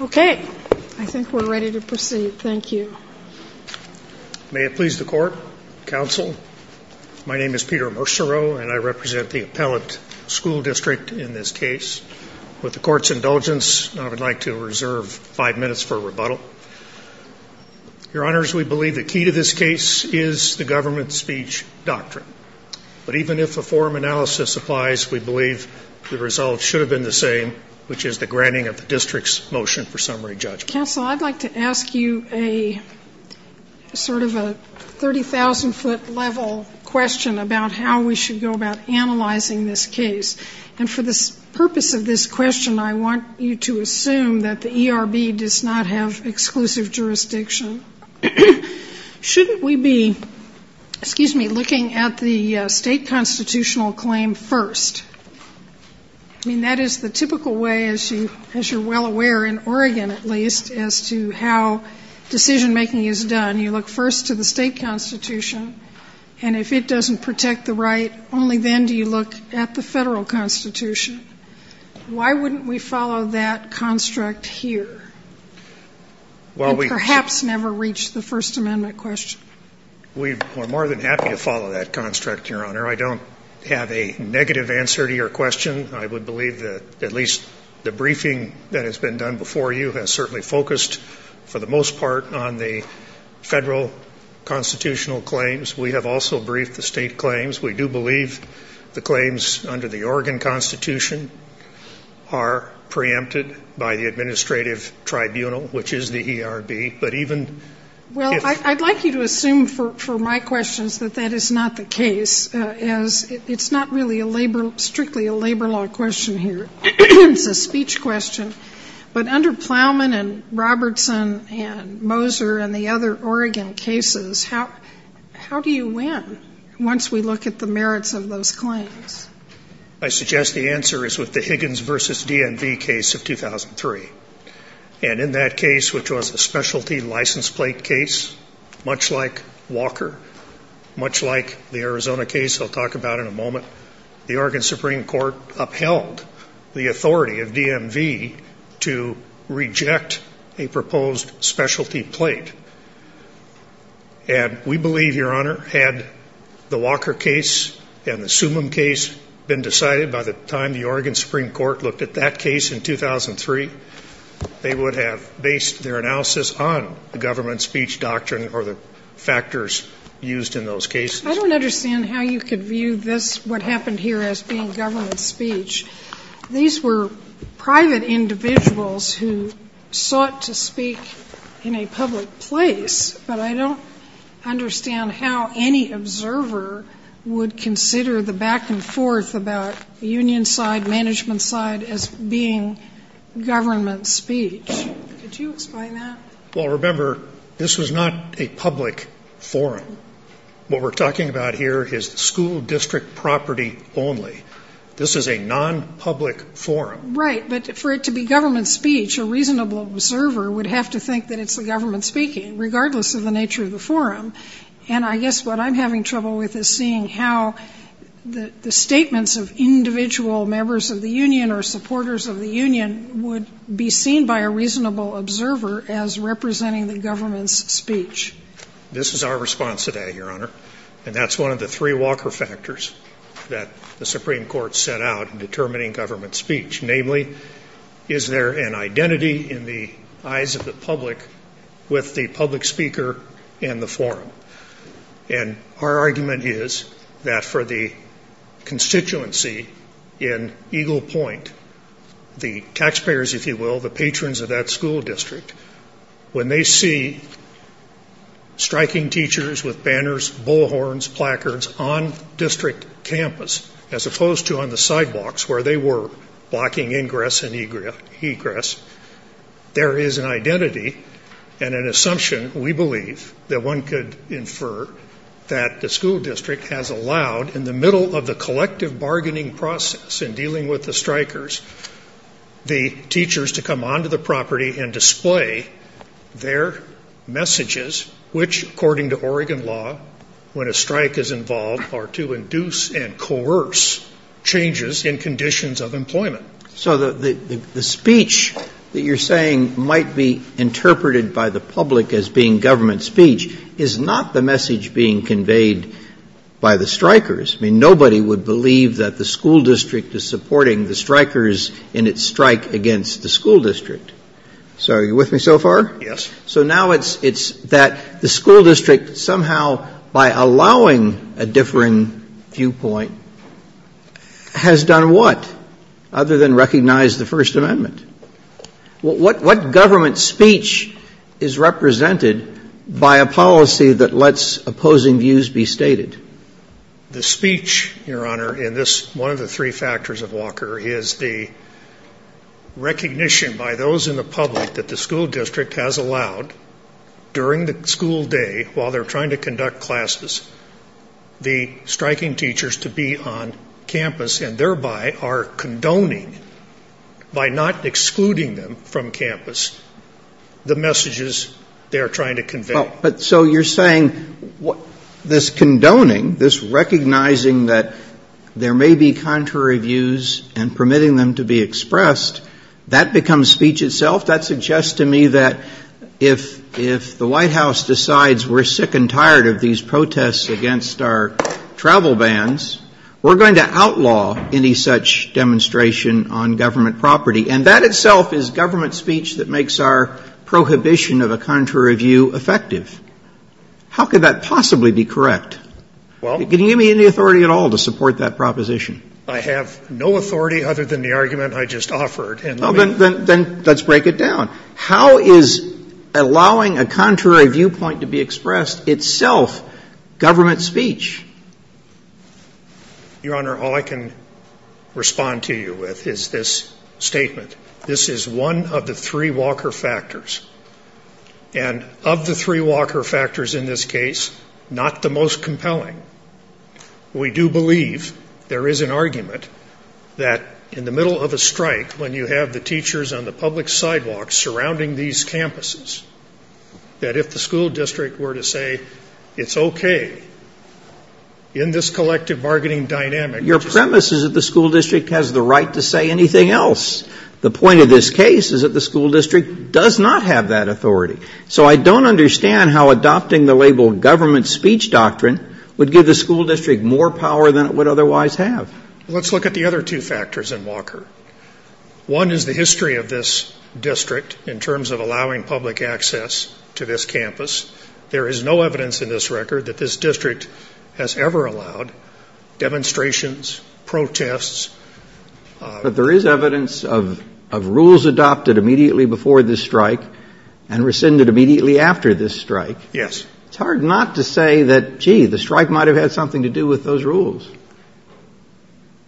Okay. I think we're ready to proceed. Thank you. May it please the Court, Counsel, my name is Peter Mercereau and I represent the Appellant School District in this case. With the Court's indulgence, I would like to reserve five minutes for rebuttal. Your Honors, we believe the key to this case is the government speech doctrine. But even if a forum analysis applies, we believe the results should have been the same, which is the granting of the district's motion for summary judgment. Counsel, I'd like to ask you a sort of a 30,000-foot level question about how we should go about analyzing this case. And for the purpose of this question, I want you to assume that the ERB does not have exclusive jurisdiction. Shouldn't we be, excuse me, looking at the state constitutional claim first? I mean, that is the typical way, as you're well aware, in Oregon at least, as to how decision-making is done. You look first to the state constitution, and if it doesn't protect the right, only then do you look at the federal constitution. Why wouldn't we follow that construct here? And perhaps never reach the First Amendment question. We're more than happy to follow that construct, Your Honor. I don't have a negative answer to your question. I would believe that at least the briefing that has been done before you has certainly focused, for the most part, on the federal constitutional claims. We have also briefed the state claims. We do believe the claims under the Oregon Constitution are preempted by the administrative tribunal, which is the ERB. But even if ---- Well, I'd like you to assume for my questions that that is not the case, as it's not really a labor, strictly a labor law question here. It's a speech question. But under Plowman and Robertson and Moser and the other Oregon cases, how do you win once we look at the merits of those claims? I suggest the answer is with the Higgins v. DMV case of 2003. And in that case, which was a specialty license plate case, much like Walker, much like the Arizona case I'll talk about in a moment, the Oregon Supreme Court upheld the authority of DMV to reject a proposed specialty plate. And we believe, Your Honor, had the Walker case and the Sumim case been decided by the time the Oregon Supreme Court looked at that case in 2003, they would have based their analysis on the government speech doctrine or the factors used in those cases. I don't understand how you could view this, what happened here, as being government speech. These were private individuals who sought to speak in a public place, but I don't understand how any observer would consider the back and forth about union side, management side, as being government speech. Could you explain that? Well, remember, this was not a public forum. What we're talking about here is school district property only. This is a non-public forum. Right, but for it to be government speech, a reasonable observer would have to think that it's the government speaking, regardless of the nature of the forum. And I guess what I'm having trouble with is seeing how the statements of individual members of the union or supporters of the union would be seen by a reasonable observer as representing the government's speech. This is our response today, Your Honor, and that's one of the three Walker factors that the Supreme Court set out in determining government speech. Namely, is there an identity in the eyes of the public with the public speaker and the forum? And our argument is that for the constituency in Eagle Point, the taxpayers, if you will, the patrons of that school district, when they see striking teachers with banners, bullhorns, placards, on district campus as opposed to on the sidewalks where they were blocking ingress and egress, there is an identity and an assumption, we believe, that one could infer that the school district has allowed in the middle of the collective bargaining process in dealing with the strikers the teachers to come onto the property and display their messages, which according to Oregon law, when a strike is involved, are to induce and coerce changes in conditions of employment. So the speech that you're saying might be interpreted by the public as being government speech is not the message being conveyed by the strikers. I mean, nobody would believe that the school district is supporting the strikers in its strike against the school district. So are you with me so far? Yes. So now it's that the school district somehow by allowing a different viewpoint has done what other than recognize the First Amendment? What government speech is represented by a policy that lets opposing views be stated? The speech, Your Honor, in this one of the three factors of Walker, is the recognition by those in the public that the school district has allowed during the school day, while they're trying to conduct classes, the striking teachers to be on campus and thereby are condoning by not excluding them from campus the messages they are trying to convey. But so you're saying this condoning, this recognizing that there may be contrary views and permitting them to be expressed, that becomes speech itself? That suggests to me that if the White House decides we're sick and tired of these protests against our travel bans, we're going to outlaw any such demonstration on government property. And that itself is government speech that makes our prohibition of a contrary view effective. How could that possibly be correct? Can you give me any authority at all to support that proposition? I have no authority other than the argument I just offered. Then let's break it down. How is allowing a contrary viewpoint to be expressed itself government speech? Your Honor, all I can respond to you with is this statement. This is one of the three Walker factors. And of the three Walker factors in this case, not the most compelling. We do believe there is an argument that in the middle of a strike, when you have the teachers on the public sidewalk surrounding these campuses, that if the school district were to say it's okay in this collective bargaining dynamic. Your premise is that the school district has the right to say anything else. The point of this case is that the school district does not have that authority. So I don't understand how adopting the label government speech doctrine would give the school district more power than it would otherwise have. Let's look at the other two factors in Walker. One is the history of this district in terms of allowing public access to this campus. There is no evidence in this record that this district has ever allowed demonstrations, protests. But there is evidence of rules adopted immediately before this strike and rescinded immediately after this strike. Yes. It's hard not to say that, gee, the strike might have had something to do with those rules.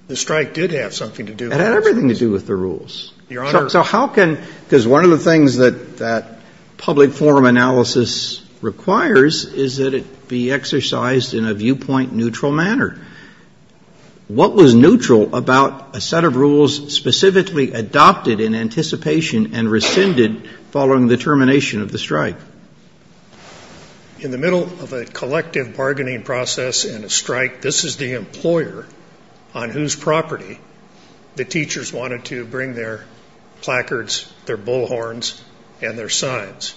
The strike did have something to do with those rules. It had everything to do with the rules. Your Honor. So how can, because one of the things that that public forum analysis requires is that it be exercised in a viewpoint neutral manner. What was neutral about a set of rules specifically adopted in anticipation and rescinded following the termination of the strike? In the middle of a collective bargaining process and a strike, this is the employer on whose property the teachers wanted to bring their placards, their bullhorns and their signs.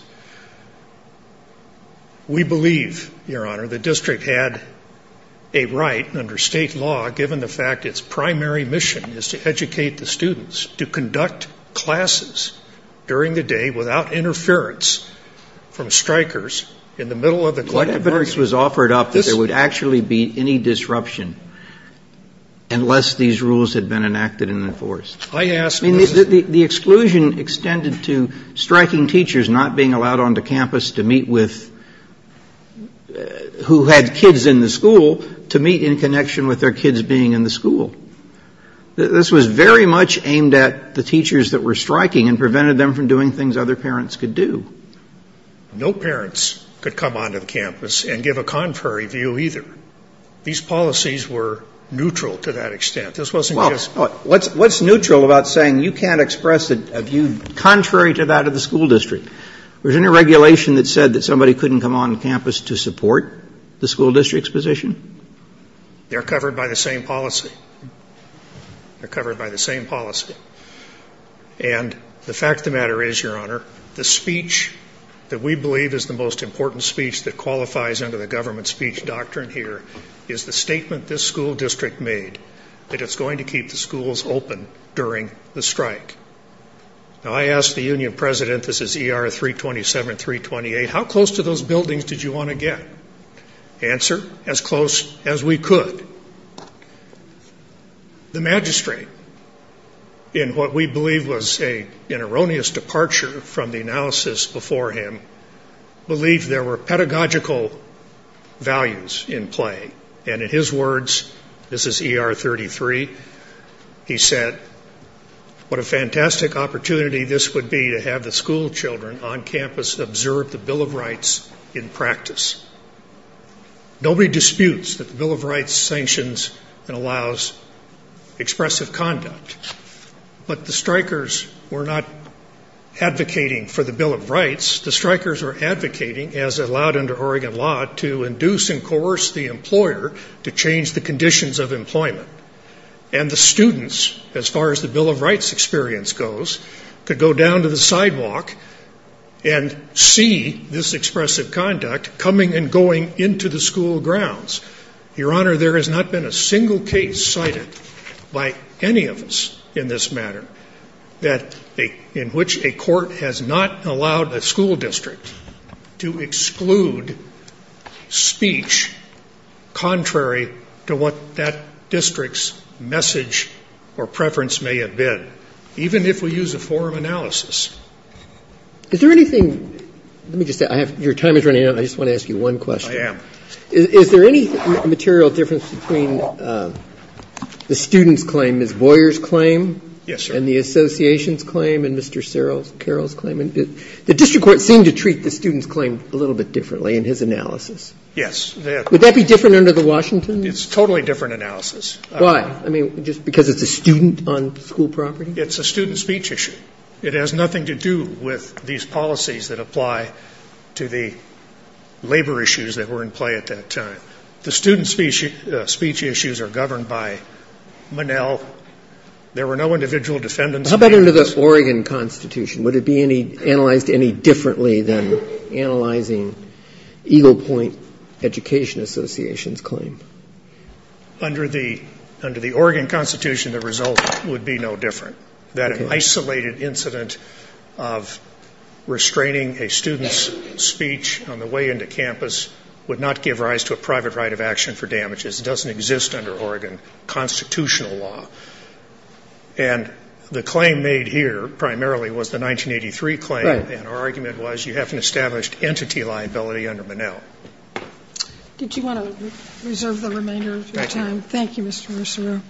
We believe, Your Honor, the district had a right under state law, given the fact its primary mission is to educate the students to conduct classes during the day without interference from strikers in the middle of the collective bargaining process. What evidence was offered up that there would actually be any disruption unless these rules had been enacted and enforced? I asked. The exclusion extended to striking teachers not being allowed onto campus to meet with who had kids in the school to meet in connection with their kids being in the school. This was very much aimed at the teachers that were striking and prevented them from doing things other parents could do. No parents could come onto the campus and give a contrary view either. These policies were neutral to that extent. What's neutral about saying you can't express a view contrary to that of the school district? Was there any regulation that said that somebody couldn't come onto campus to support the school district's position? They're covered by the same policy. They're covered by the same policy. And the fact of the matter is, Your Honor, the speech that we believe is the most important speech that qualifies under the government speech doctrine here is the statement this school district made that it's going to keep the schools open during the strike. Now, I asked the union president, this is ER-327, 328, how close to those buildings did you want to get? Answer, as close as we could. The magistrate, in what we believe was an erroneous departure from the analysis before him, believed there were pedagogical values in play. And in his words, this is ER-33, he said, what a fantastic opportunity this would be to have the school children on campus observe the Bill of Rights in practice. Nobody disputes that the Bill of Rights sanctions and allows expressive conduct. But the strikers were not advocating for the Bill of Rights. The strikers were advocating, as allowed under Oregon law, to induce and coerce the employer to change the conditions of employment. And the students, as far as the Bill of Rights experience goes, could go down to the sidewalk and see this expressive conduct coming and going into the school grounds. Your Honor, there has not been a single case cited by any of us in this matter in which a court has not allowed a school district to exclude speech contrary to what that district's message or preference may have been, even if we use a forum analysis. Is there anything ‑‑ let me just say, your time is running out. I just want to ask you one question. I am. Is there any material difference between the student's claim, Ms. Boyer's claim? Yes, sir. And the association's claim and Mr. Carroll's claim? The district court seemed to treat the student's claim a little bit differently in his analysis. Yes. Would that be different under the Washington? It's a totally different analysis. Why? I mean, just because it's a student on school property? It's a student speech issue. It has nothing to do with these policies that apply to the labor issues that were in play at that time. The student speech issues are governed by Monell. There were no individual defendants. How about under the Oregon Constitution? Would it be analyzed any differently than analyzing Eagle Point Education Association's claim? Under the Oregon Constitution, the result would be no different. That isolated incident of restraining a student's speech on the way into campus would not give rise to a private right of action for damages. It doesn't exist under Oregon constitutional law. And the claim made here primarily was the 1983 claim. Right. And our argument was you haven't established entity liability under Monell. Did you want to reserve the remainder of your time? Thank you, Mr. Russerew.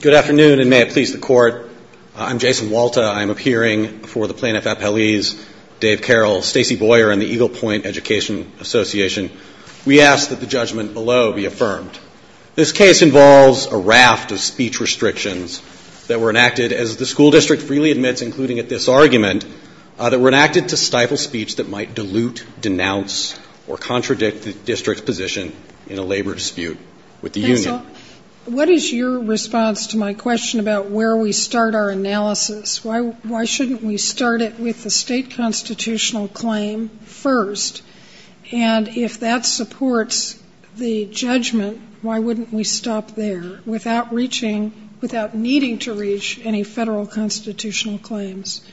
Good afternoon, and may it please the Court. I'm Jason Walta. I'm appearing for the plaintiff at Pele's, Dave Carroll, Stacey Boyer, and the Eagle Point Education Association. We ask that the judgment below be affirmed. This case involves a raft of speech restrictions that were enacted, as the school district freely admits, including at this argument, that were enacted to stifle speech that might dilute, denounce, or contradict the district's position in a labor dispute with the union. What is your response to my question about where we start our analysis? Why shouldn't we start it with the state constitutional claim first? And if that supports the judgment, why wouldn't we stop there without reaching, without needing to reach, any Federal constitutional claims?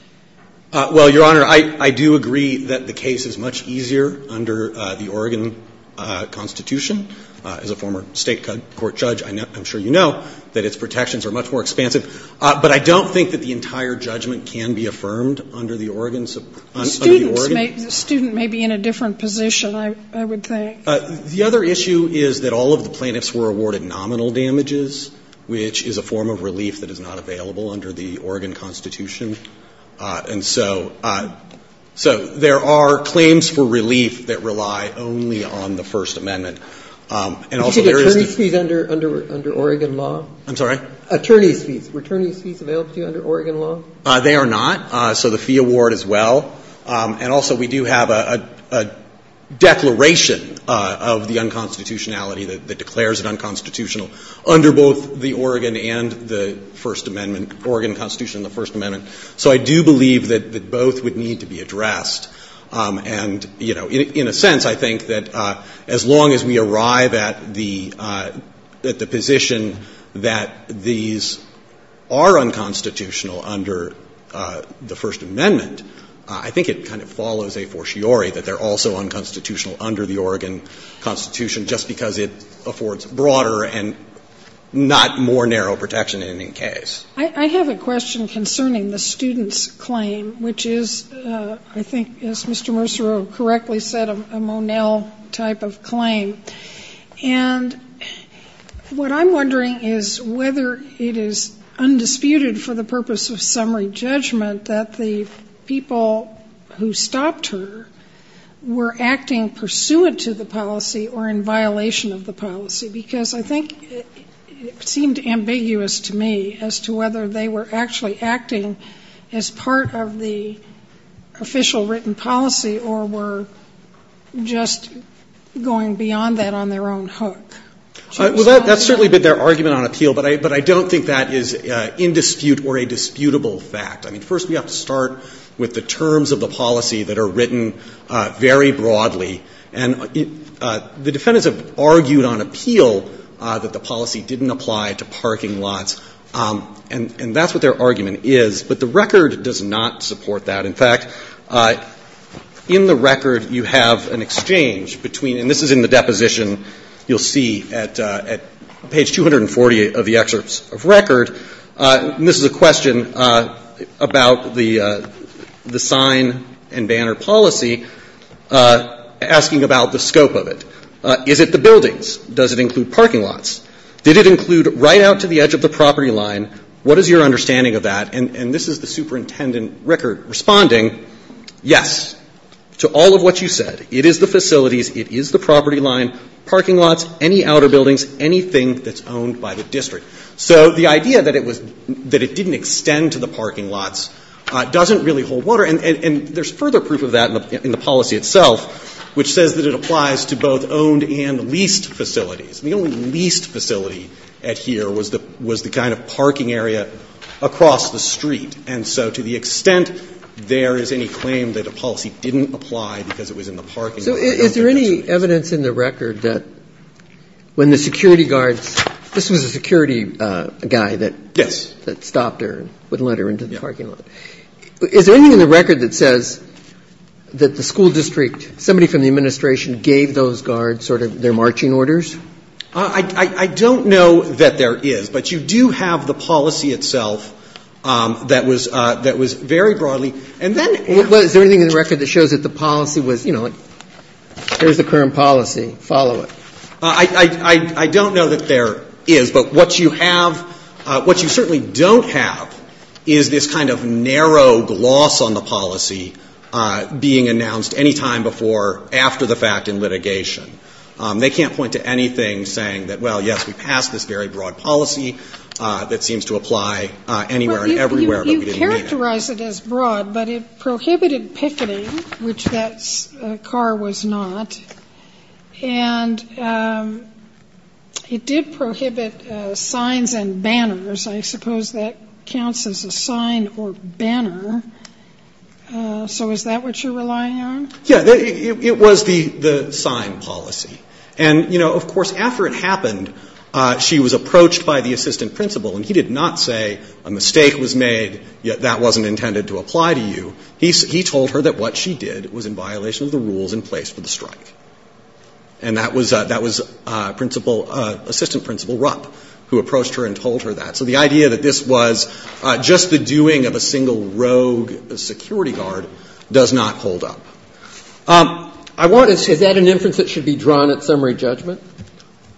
Well, Your Honor, I do agree that the case is much easier under the Oregon constitution. As a former State court judge, I'm sure you know that its protections are much more expansive. But I don't think that the entire judgment can be affirmed under the Oregon. Students may be in a different position, I would think. The other issue is that all of the plaintiffs were awarded nominal damages, which is a form of relief that is not available under the Oregon constitution. And so there are claims for relief that rely only on the First Amendment. And also there is a fees under Oregon law. I'm sorry? Attorney's fees. Were attorney's fees available to you under Oregon law? They are not. So the fee award as well. And also we do have a declaration of the unconstitutionality that declares it unconstitutional under both the Oregon and the First Amendment, Oregon constitution and the First Amendment. So I do believe that both would need to be addressed. And, you know, in a sense, I think that as long as we arrive at the position that these are unconstitutional under the First Amendment, I think it kind of follows a fortiori that they're also unconstitutional under the Oregon constitution just because it affords broader and not more narrow protection in any case. I have a question concerning the student's claim, which is, I think, as Mr. Mercereau correctly said, a Monell type of claim. And what I'm wondering is whether it is undisputed for the purpose of summary judgment that the people who stopped her were acting pursuant to the policy or in violation of the policy. Because I think it seemed ambiguous to me as to whether they were actually acting as part of the Well, that's certainly been their argument on appeal. But I don't think that is in dispute or a disputable fact. I mean, first we have to start with the terms of the policy that are written very broadly. And the defendants have argued on appeal that the policy didn't apply to parking lots. And that's what their argument is. But the record does not support that. In fact, in the record you have an exchange between, and this is in the deposition you'll see at page 240 of the excerpts of record. And this is a question about the sign and banner policy, asking about the scope of it. Is it the buildings? Does it include parking lots? Did it include right out to the edge of the property line? What is your understanding of that? And this is the superintendent record responding, yes, to all of what you said. It is the facilities. It is the property line. Parking lots, any outer buildings, anything that's owned by the district. So the idea that it was, that it didn't extend to the parking lots doesn't really hold water. And there's further proof of that in the policy itself, which says that it applies to both owned and leased facilities. And the only leased facility at here was the, was the kind of parking area across the street. And so to the extent there is any claim that a policy didn't apply because it was in the parking lot. So is there any evidence in the record that when the security guards, this was a security guy that. Yes. That stopped her and wouldn't let her into the parking lot. Yeah. Is there anything in the record that says that the school district, somebody from the administration gave those guards sort of their marching orders? I don't know that there is, but you do have the policy itself that was, that was very broadly. And then. Is there anything in the record that shows that the policy was, you know, here's the current policy. Follow it. I don't know that there is, but what you have, what you certainly don't have is this kind of narrow gloss on the policy being announced any time before, after the fact in litigation. They can't point to anything saying that, well, yes, we passed this very broad policy that seems to apply anywhere and everywhere, but we didn't mean it. You characterize it as broad, but it prohibited picketing, which that car was not. And it did prohibit signs and banners. I suppose that counts as a sign or banner. So is that what you're relying on? Yeah. It was the sign policy. And, you know, of course, after it happened, she was approached by the assistant principal, and he did not say a mistake was made, yet that wasn't intended to apply to you. He told her that what she did was in violation of the rules in place for the strike. And that was principal, assistant principal Rupp, who approached her and told her that. So the idea that this was just the doing of a single rogue security guard does not hold up. Is that an inference that should be drawn at summary judgment?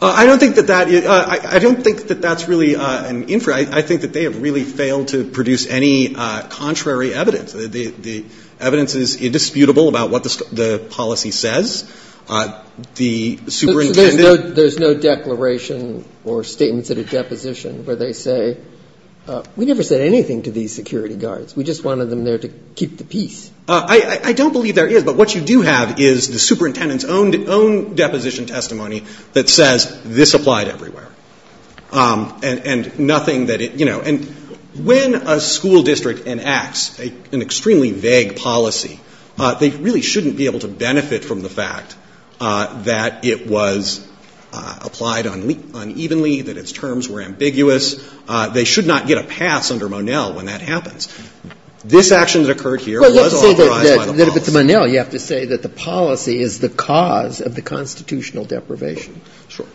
I don't think that that's really an inference. I think that they have really failed to produce any contrary evidence. The evidence is indisputable about what the policy says. The superintendent There's no declaration or statements at a deposition where they say, we never said anything to these security guards. We just wanted them there to keep the peace. I don't believe there is. But what you do have is the superintendent's own deposition testimony that says this applied everywhere. And nothing that it, you know. And when a school district enacts an extremely vague policy, they really shouldn't be able to benefit from the fact that it was applied unevenly, that its terms were ambiguous. They should not get a pass under Monell when that happens. This action that occurred here was authorized by the policy. Sotomayor Well, you have to say that if it's Monell, you have to say that the policy is the cause of the constitutional deprivation. Fisher Sure.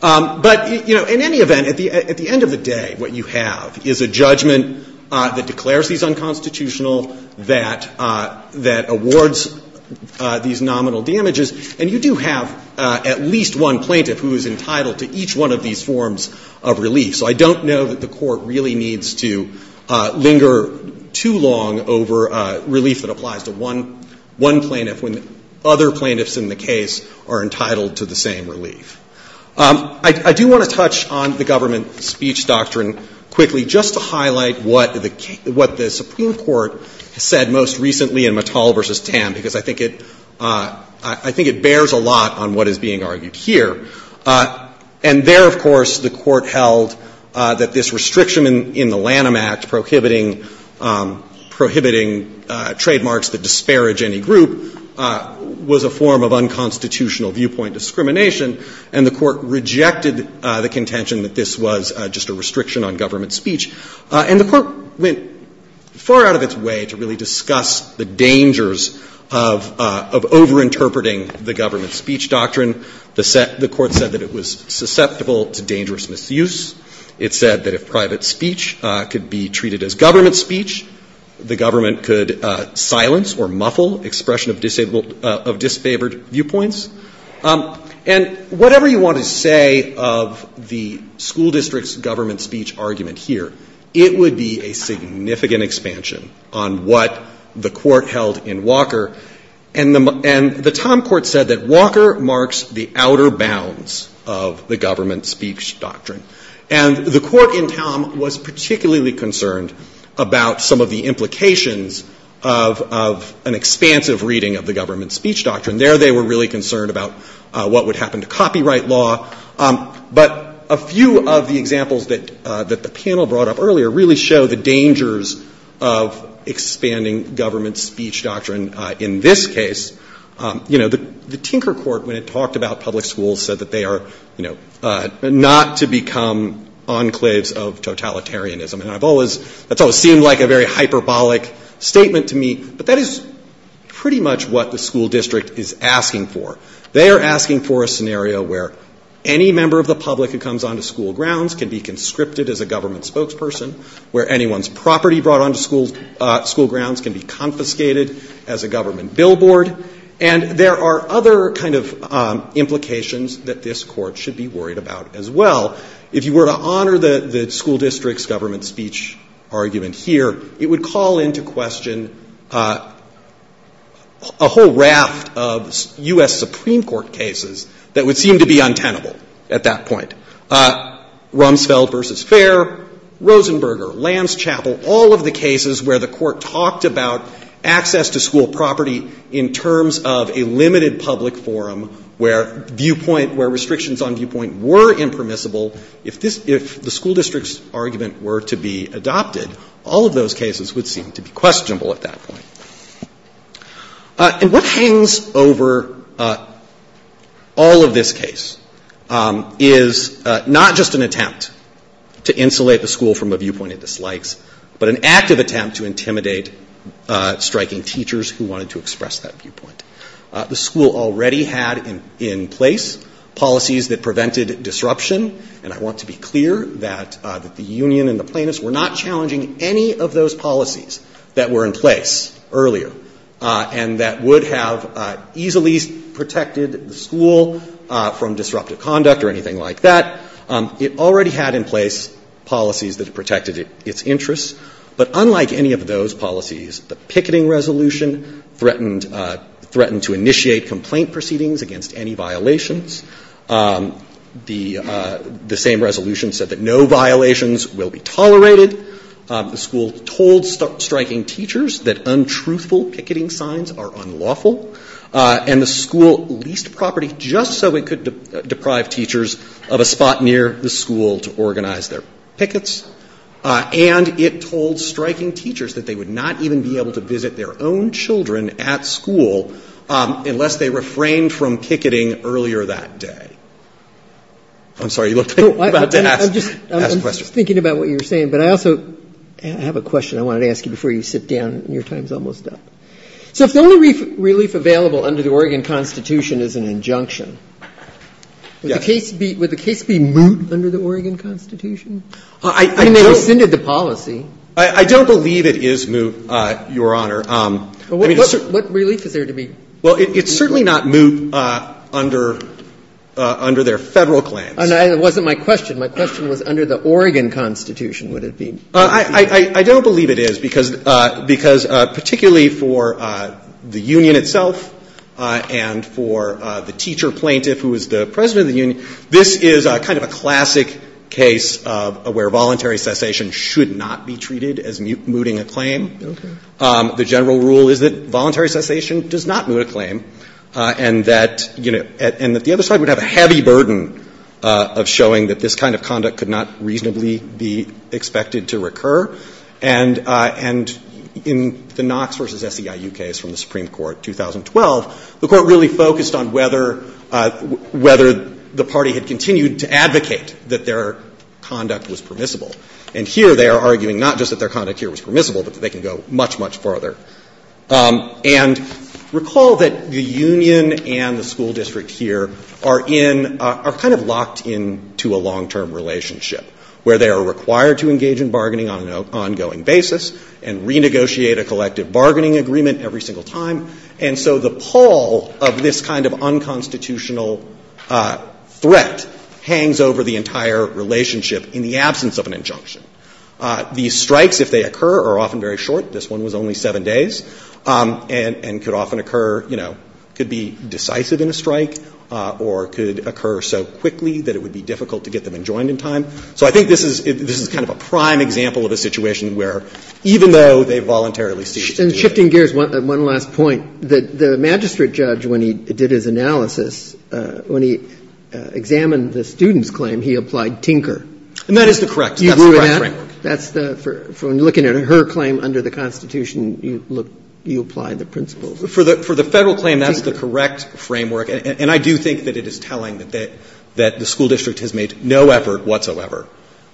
But, you know, in any event, at the end of the day, what you have is a judgment that declares these unconstitutional, that awards these nominal damages. And you do have at least one plaintiff who is entitled to each one of these forms of relief. So I don't know that the Court really needs to linger too long over relief that applies to one plaintiff when other plaintiffs in the case are entitled to the same relief. I do want to touch on the government speech doctrine quickly just to highlight what the Supreme Court said most recently in Mattel v. Tam, because I think it bears a lot on what is being argued here. And there, of course, the Court held that this restriction in the Lanham Act prohibiting trademarks that disparage any group was a form of unconstitutional viewpoint discrimination, and the Court rejected the contention that this was just a restriction on government speech. And the Court went far out of its way to really discuss the dangers of overinterpreting the government speech doctrine. The Court said that it was susceptible to dangerous misuse. It said that if private speech could be treated as government speech, the government could silence or muffle expression of disfavored viewpoints. And whatever you want to say of the school district's government speech argument here, it would be a significant expansion on what the Court held in Walker. And the Tom Court said that Walker marks the outer bounds of the government speech doctrine. And the Court in Tom was particularly concerned about some of the implications of an expansive reading of the government speech doctrine. There, they were really concerned about what would happen to copyright law. But a few of the examples that the panel brought up earlier really show the dangers of expanding government speech doctrine in this case. You know, the Tinker Court, when it talked about public schools, said that they are, you know, not to become enclaves of totalitarianism. And that's always seemed like a very hyperbolic statement to me, but that is pretty much what the school district is asking for. They are asking for a scenario where any member of the public who comes onto school grounds can be conscripted as a government spokesperson, where anyone's property brought onto school grounds can be confiscated as a government billboard. And there are other kind of implications that this Court should be worried about as well. If you were to honor the school district's government speech argument here, it would call into question a whole raft of U.S. Supreme Court cases that would seem to be untenable at that point. Rumsfeld v. Fair, Rosenberger, Lanschapel, all of the cases where the Court talked about access to school property in terms of a limited public forum where viewpoint — where restrictions on viewpoint were impermissible. If this — if the school district's argument were to be adopted, all of those cases would seem to be questionable at that point. And what hangs over all of this case is not just an attempt to insulate the school from a viewpoint it dislikes, but an active attempt to intimidate striking teachers who wanted to express that viewpoint. The school already had in place policies that prevented disruption, and I want to be clear that the union and the plaintiffs were not challenging any of those policies that were in place earlier, and that would have easily protected the school from disruptive conduct or anything like that. It already had in place policies that protected its interests, but unlike any of those policies, the picketing resolution threatened to initiate complaint proceedings against any violations. The same resolution said that no violations will be tolerated. The school told striking teachers that untruthful picketing signs are unlawful, and the school leased property just so it could deprive teachers of a spot near the school to organize their pickets. And it told striking teachers that they would not even be able to visit their own school on that day. I'm sorry, you looked like you were about to ask a question. I'm just thinking about what you're saying, but I also have a question I wanted to ask you before you sit down. Your time is almost up. So if the only relief available under the Oregon Constitution is an injunction, would the case be moot under the Oregon Constitution? I mean, they rescinded the policy. I don't believe it is moot, Your Honor. What relief is there to be moot? Well, it's certainly not moot under their Federal claims. It wasn't my question. My question was under the Oregon Constitution. Would it be moot? I don't believe it is, because particularly for the union itself and for the teacher plaintiff who is the president of the union, this is kind of a classic case where voluntary cessation should not be treated as mooting a claim. Okay. The general rule is that voluntary cessation does not moot a claim and that, you know, and that the other side would have a heavy burden of showing that this kind of conduct could not reasonably be expected to recur. And in the Knox v. SEIU case from the Supreme Court, 2012, the Court really focused on whether the party had continued to advocate that their conduct was permissible. And here they are arguing not just that their conduct here was permissible, but that they can go much, much further. And recall that the union and the school district here are in, are kind of locked into a long-term relationship where they are required to engage in bargaining on an ongoing basis and renegotiate a collective bargaining agreement every single time. And so the pall of this kind of unconstitutional threat hangs over the entire relationship in the absence of an injunction. These strikes, if they occur, are often very short. This one was only 7 days. And could often occur, you know, could be decisive in a strike or could occur so quickly that it would be difficult to get them enjoined in time. So I think this is kind of a prime example of a situation where even though they voluntarily cease to do it. And shifting gears, one last point. The magistrate judge, when he did his analysis, when he examined the student's claim, he applied Tinker. And that is the correct framework. You agree with that? That's the, from looking at her claim under the Constitution, you look, you apply the principles. For the Federal claim, that's the correct framework. And I do think that it is telling that the school district has made no effort whatsoever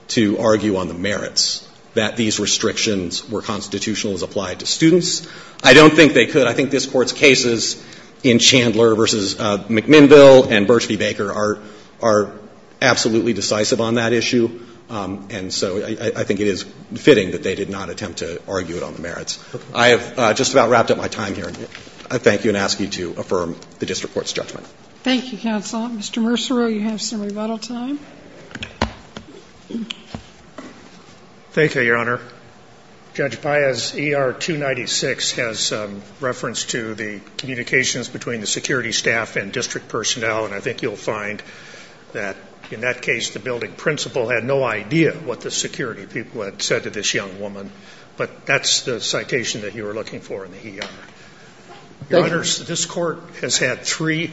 to argue on the merits that these restrictions were constitutional as applied to students. I don't think they could. I think this Court's cases in Chandler v. McMinnville and Birch v. Baker are absolutely decisive on that issue. And so I think it is fitting that they did not attempt to argue it on the merits. I have just about wrapped up my time here. I thank you and ask you to affirm the district court's judgment. Thank you, counsel. Mr. Mercereau, you have some rebuttal time. Thank you, Your Honor. Judge Baez, ER 296 has reference to the communications between the security staff and district personnel. And I think you'll find that in that case, the building principal had no idea what the security people had said to this young woman. But that's the citation that you were looking for in the hearing. Thank you. Your Honors, this Court has had three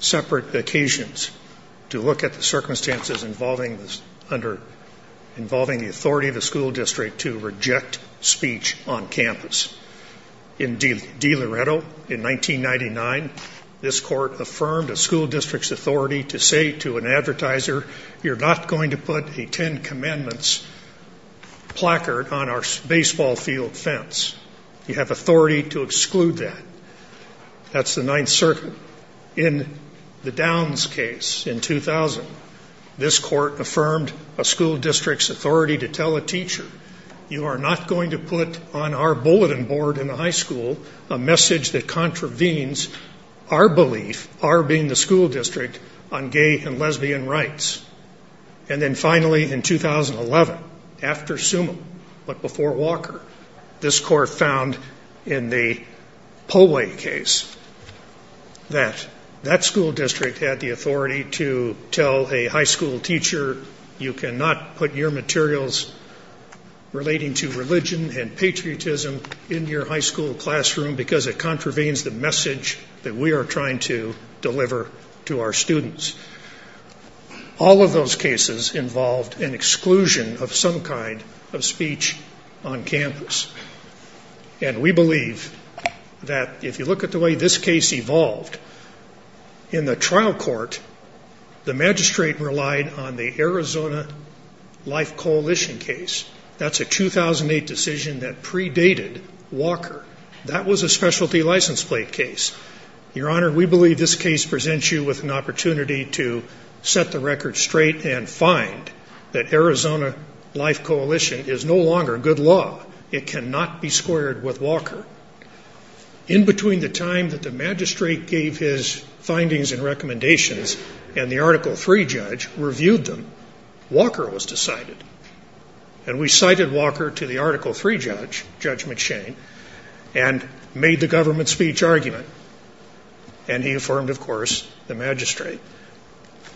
separate occasions to look at the circumstances involving the authority of the school district to reject speech on campus. In DiLoretto in 1999, this Court affirmed a school district's authority to say to an advertiser, you're not going to put a Ten Commandments placard on our baseball field fence. You have authority to exclude that. That's the Ninth Circuit. In the Downs case in 2000, this Court affirmed a school district's authority to tell a teacher, you are not going to put on our bulletin board in the high school a message that contravenes our belief, our being the school district, on gay and lesbian rights. And then finally in 2011, after Summa, but before Walker, this Court found in the Pollway case that that school district had the authority to tell a high school teacher, you cannot put your materials relating to religion and patriotism in your high school classroom because it contravenes the message that we are trying to deliver to our students. All of those cases involved an exclusion of some kind of speech on campus. And we believe that if you look at the way this case evolved, in the trial court, the magistrate relied on the Arizona Life Coalition case. That's a 2008 decision that predated Walker. That was a specialty license plate case. Your Honor, we believe this case presents you with an opportunity to set the record straight and find that Arizona Life Coalition is no longer good law. It cannot be squared with Walker. In between the time that the magistrate gave his findings and recommendations and the Article III judge reviewed them, Walker was decided. And we cited Walker to the Article III judge, Judge McShane, and made the government speech argument. And he affirmed, of course, the magistrate.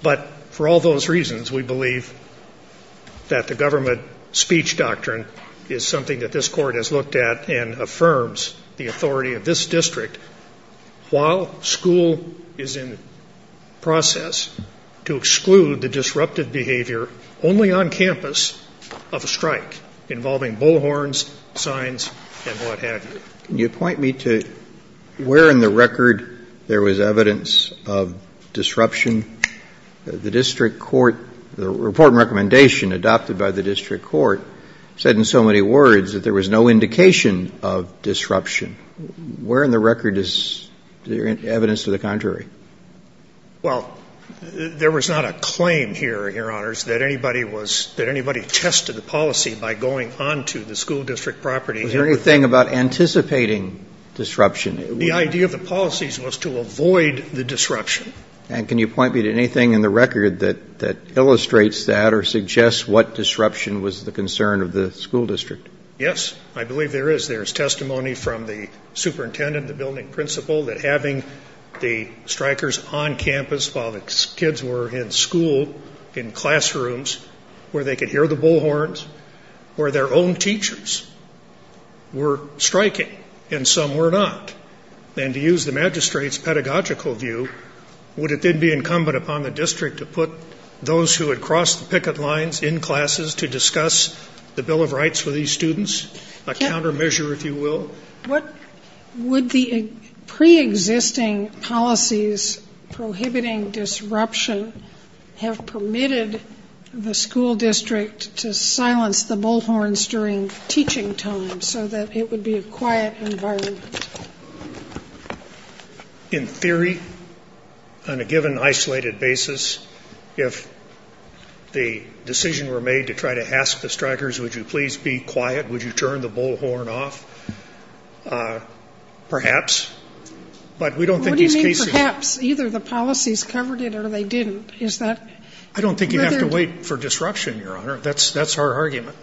But for all those reasons, we believe that the government speech doctrine is something that this court has looked at and affirms the authority of this district while school is in process to exclude the disruptive behavior only on campus of a strike involving bullhorns, signs, and what have you. Can you point me to where in the record there was evidence of disruption? The district court, the report and recommendation adopted by the district court said in so many words that there was no indication of disruption. Where in the record is there evidence to the contrary? Well, there was not a claim here, Your Honors, that anybody tested the policy by going onto the school district property. Was there anything about anticipating disruption? The idea of the policies was to avoid the disruption. And can you point me to anything in the record that illustrates that or suggests what disruption was the concern of the school district? Yes, I believe there is. There is testimony from the superintendent, the building principal, that having the strikers on campus while the kids were in school, in classrooms, where they could hear the bullhorns, where their own teachers were striking and some were not. And to use the magistrate's pedagogical view, would it then be incumbent upon the district to put those who had crossed the picket lines in classes to discuss the Bill of Rights with these students, a countermeasure, if you will? Would the preexisting policies prohibiting disruption have permitted the school district to silence the bullhorns during teaching time so that it would be a quiet environment? In theory, on a given isolated basis, if the decision were made to try to ask the strikers, would you please be quiet? Would you turn the bullhorn off? Perhaps. But we don't think these cases What do you mean perhaps? Either the policies covered it or they didn't. Is that whether I don't think you have to wait for disruption, Your Honor. That's our argument.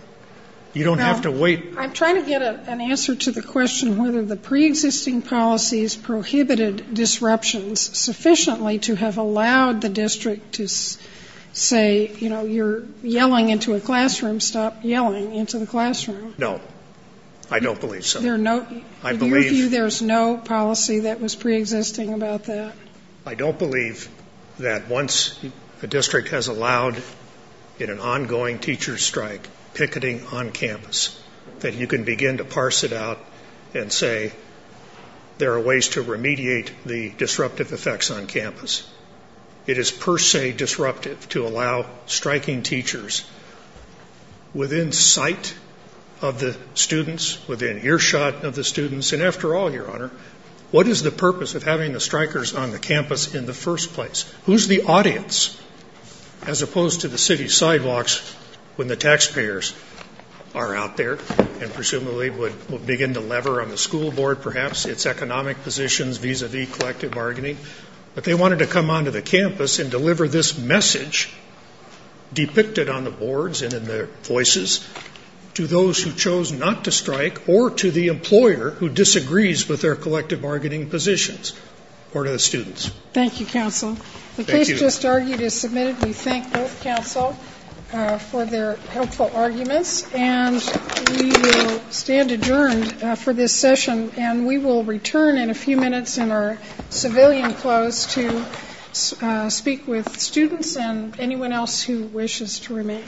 You don't have to wait. I'm trying to get an answer to the question whether the preexisting policies prohibited disruptions sufficiently to have allowed the district to say, you know, you're yelling into a classroom, stop yelling into the classroom. No. I don't believe so. I believe there's no policy that was preexisting about that. I don't believe that once a district has allowed in an ongoing teacher strike picketing on campus, that you can begin to parse it out and say there are ways to remediate the disruptive effects on campus. It is per se disruptive to allow striking teachers within sight of the students, within earshot of the students. And after all, Your Honor, what is the purpose of having the strikers on the campus in the first place? Who's the audience as opposed to the city sidewalks when the taxpayers are out there and presumably would begin to lever on the school board perhaps, its economic positions, vis-a-vis collective bargaining. But they wanted to come onto the campus and deliver this message depicted on the boards to those who chose not to strike or to the employer who disagrees with their collective bargaining positions or to the students. Thank you, counsel. The case just argued is submitted. We thank both counsel for their helpful arguments. And we will stand adjourned for this session, and we will return in a few minutes in our civilian clothes to speak with students and anyone else who wishes to remain.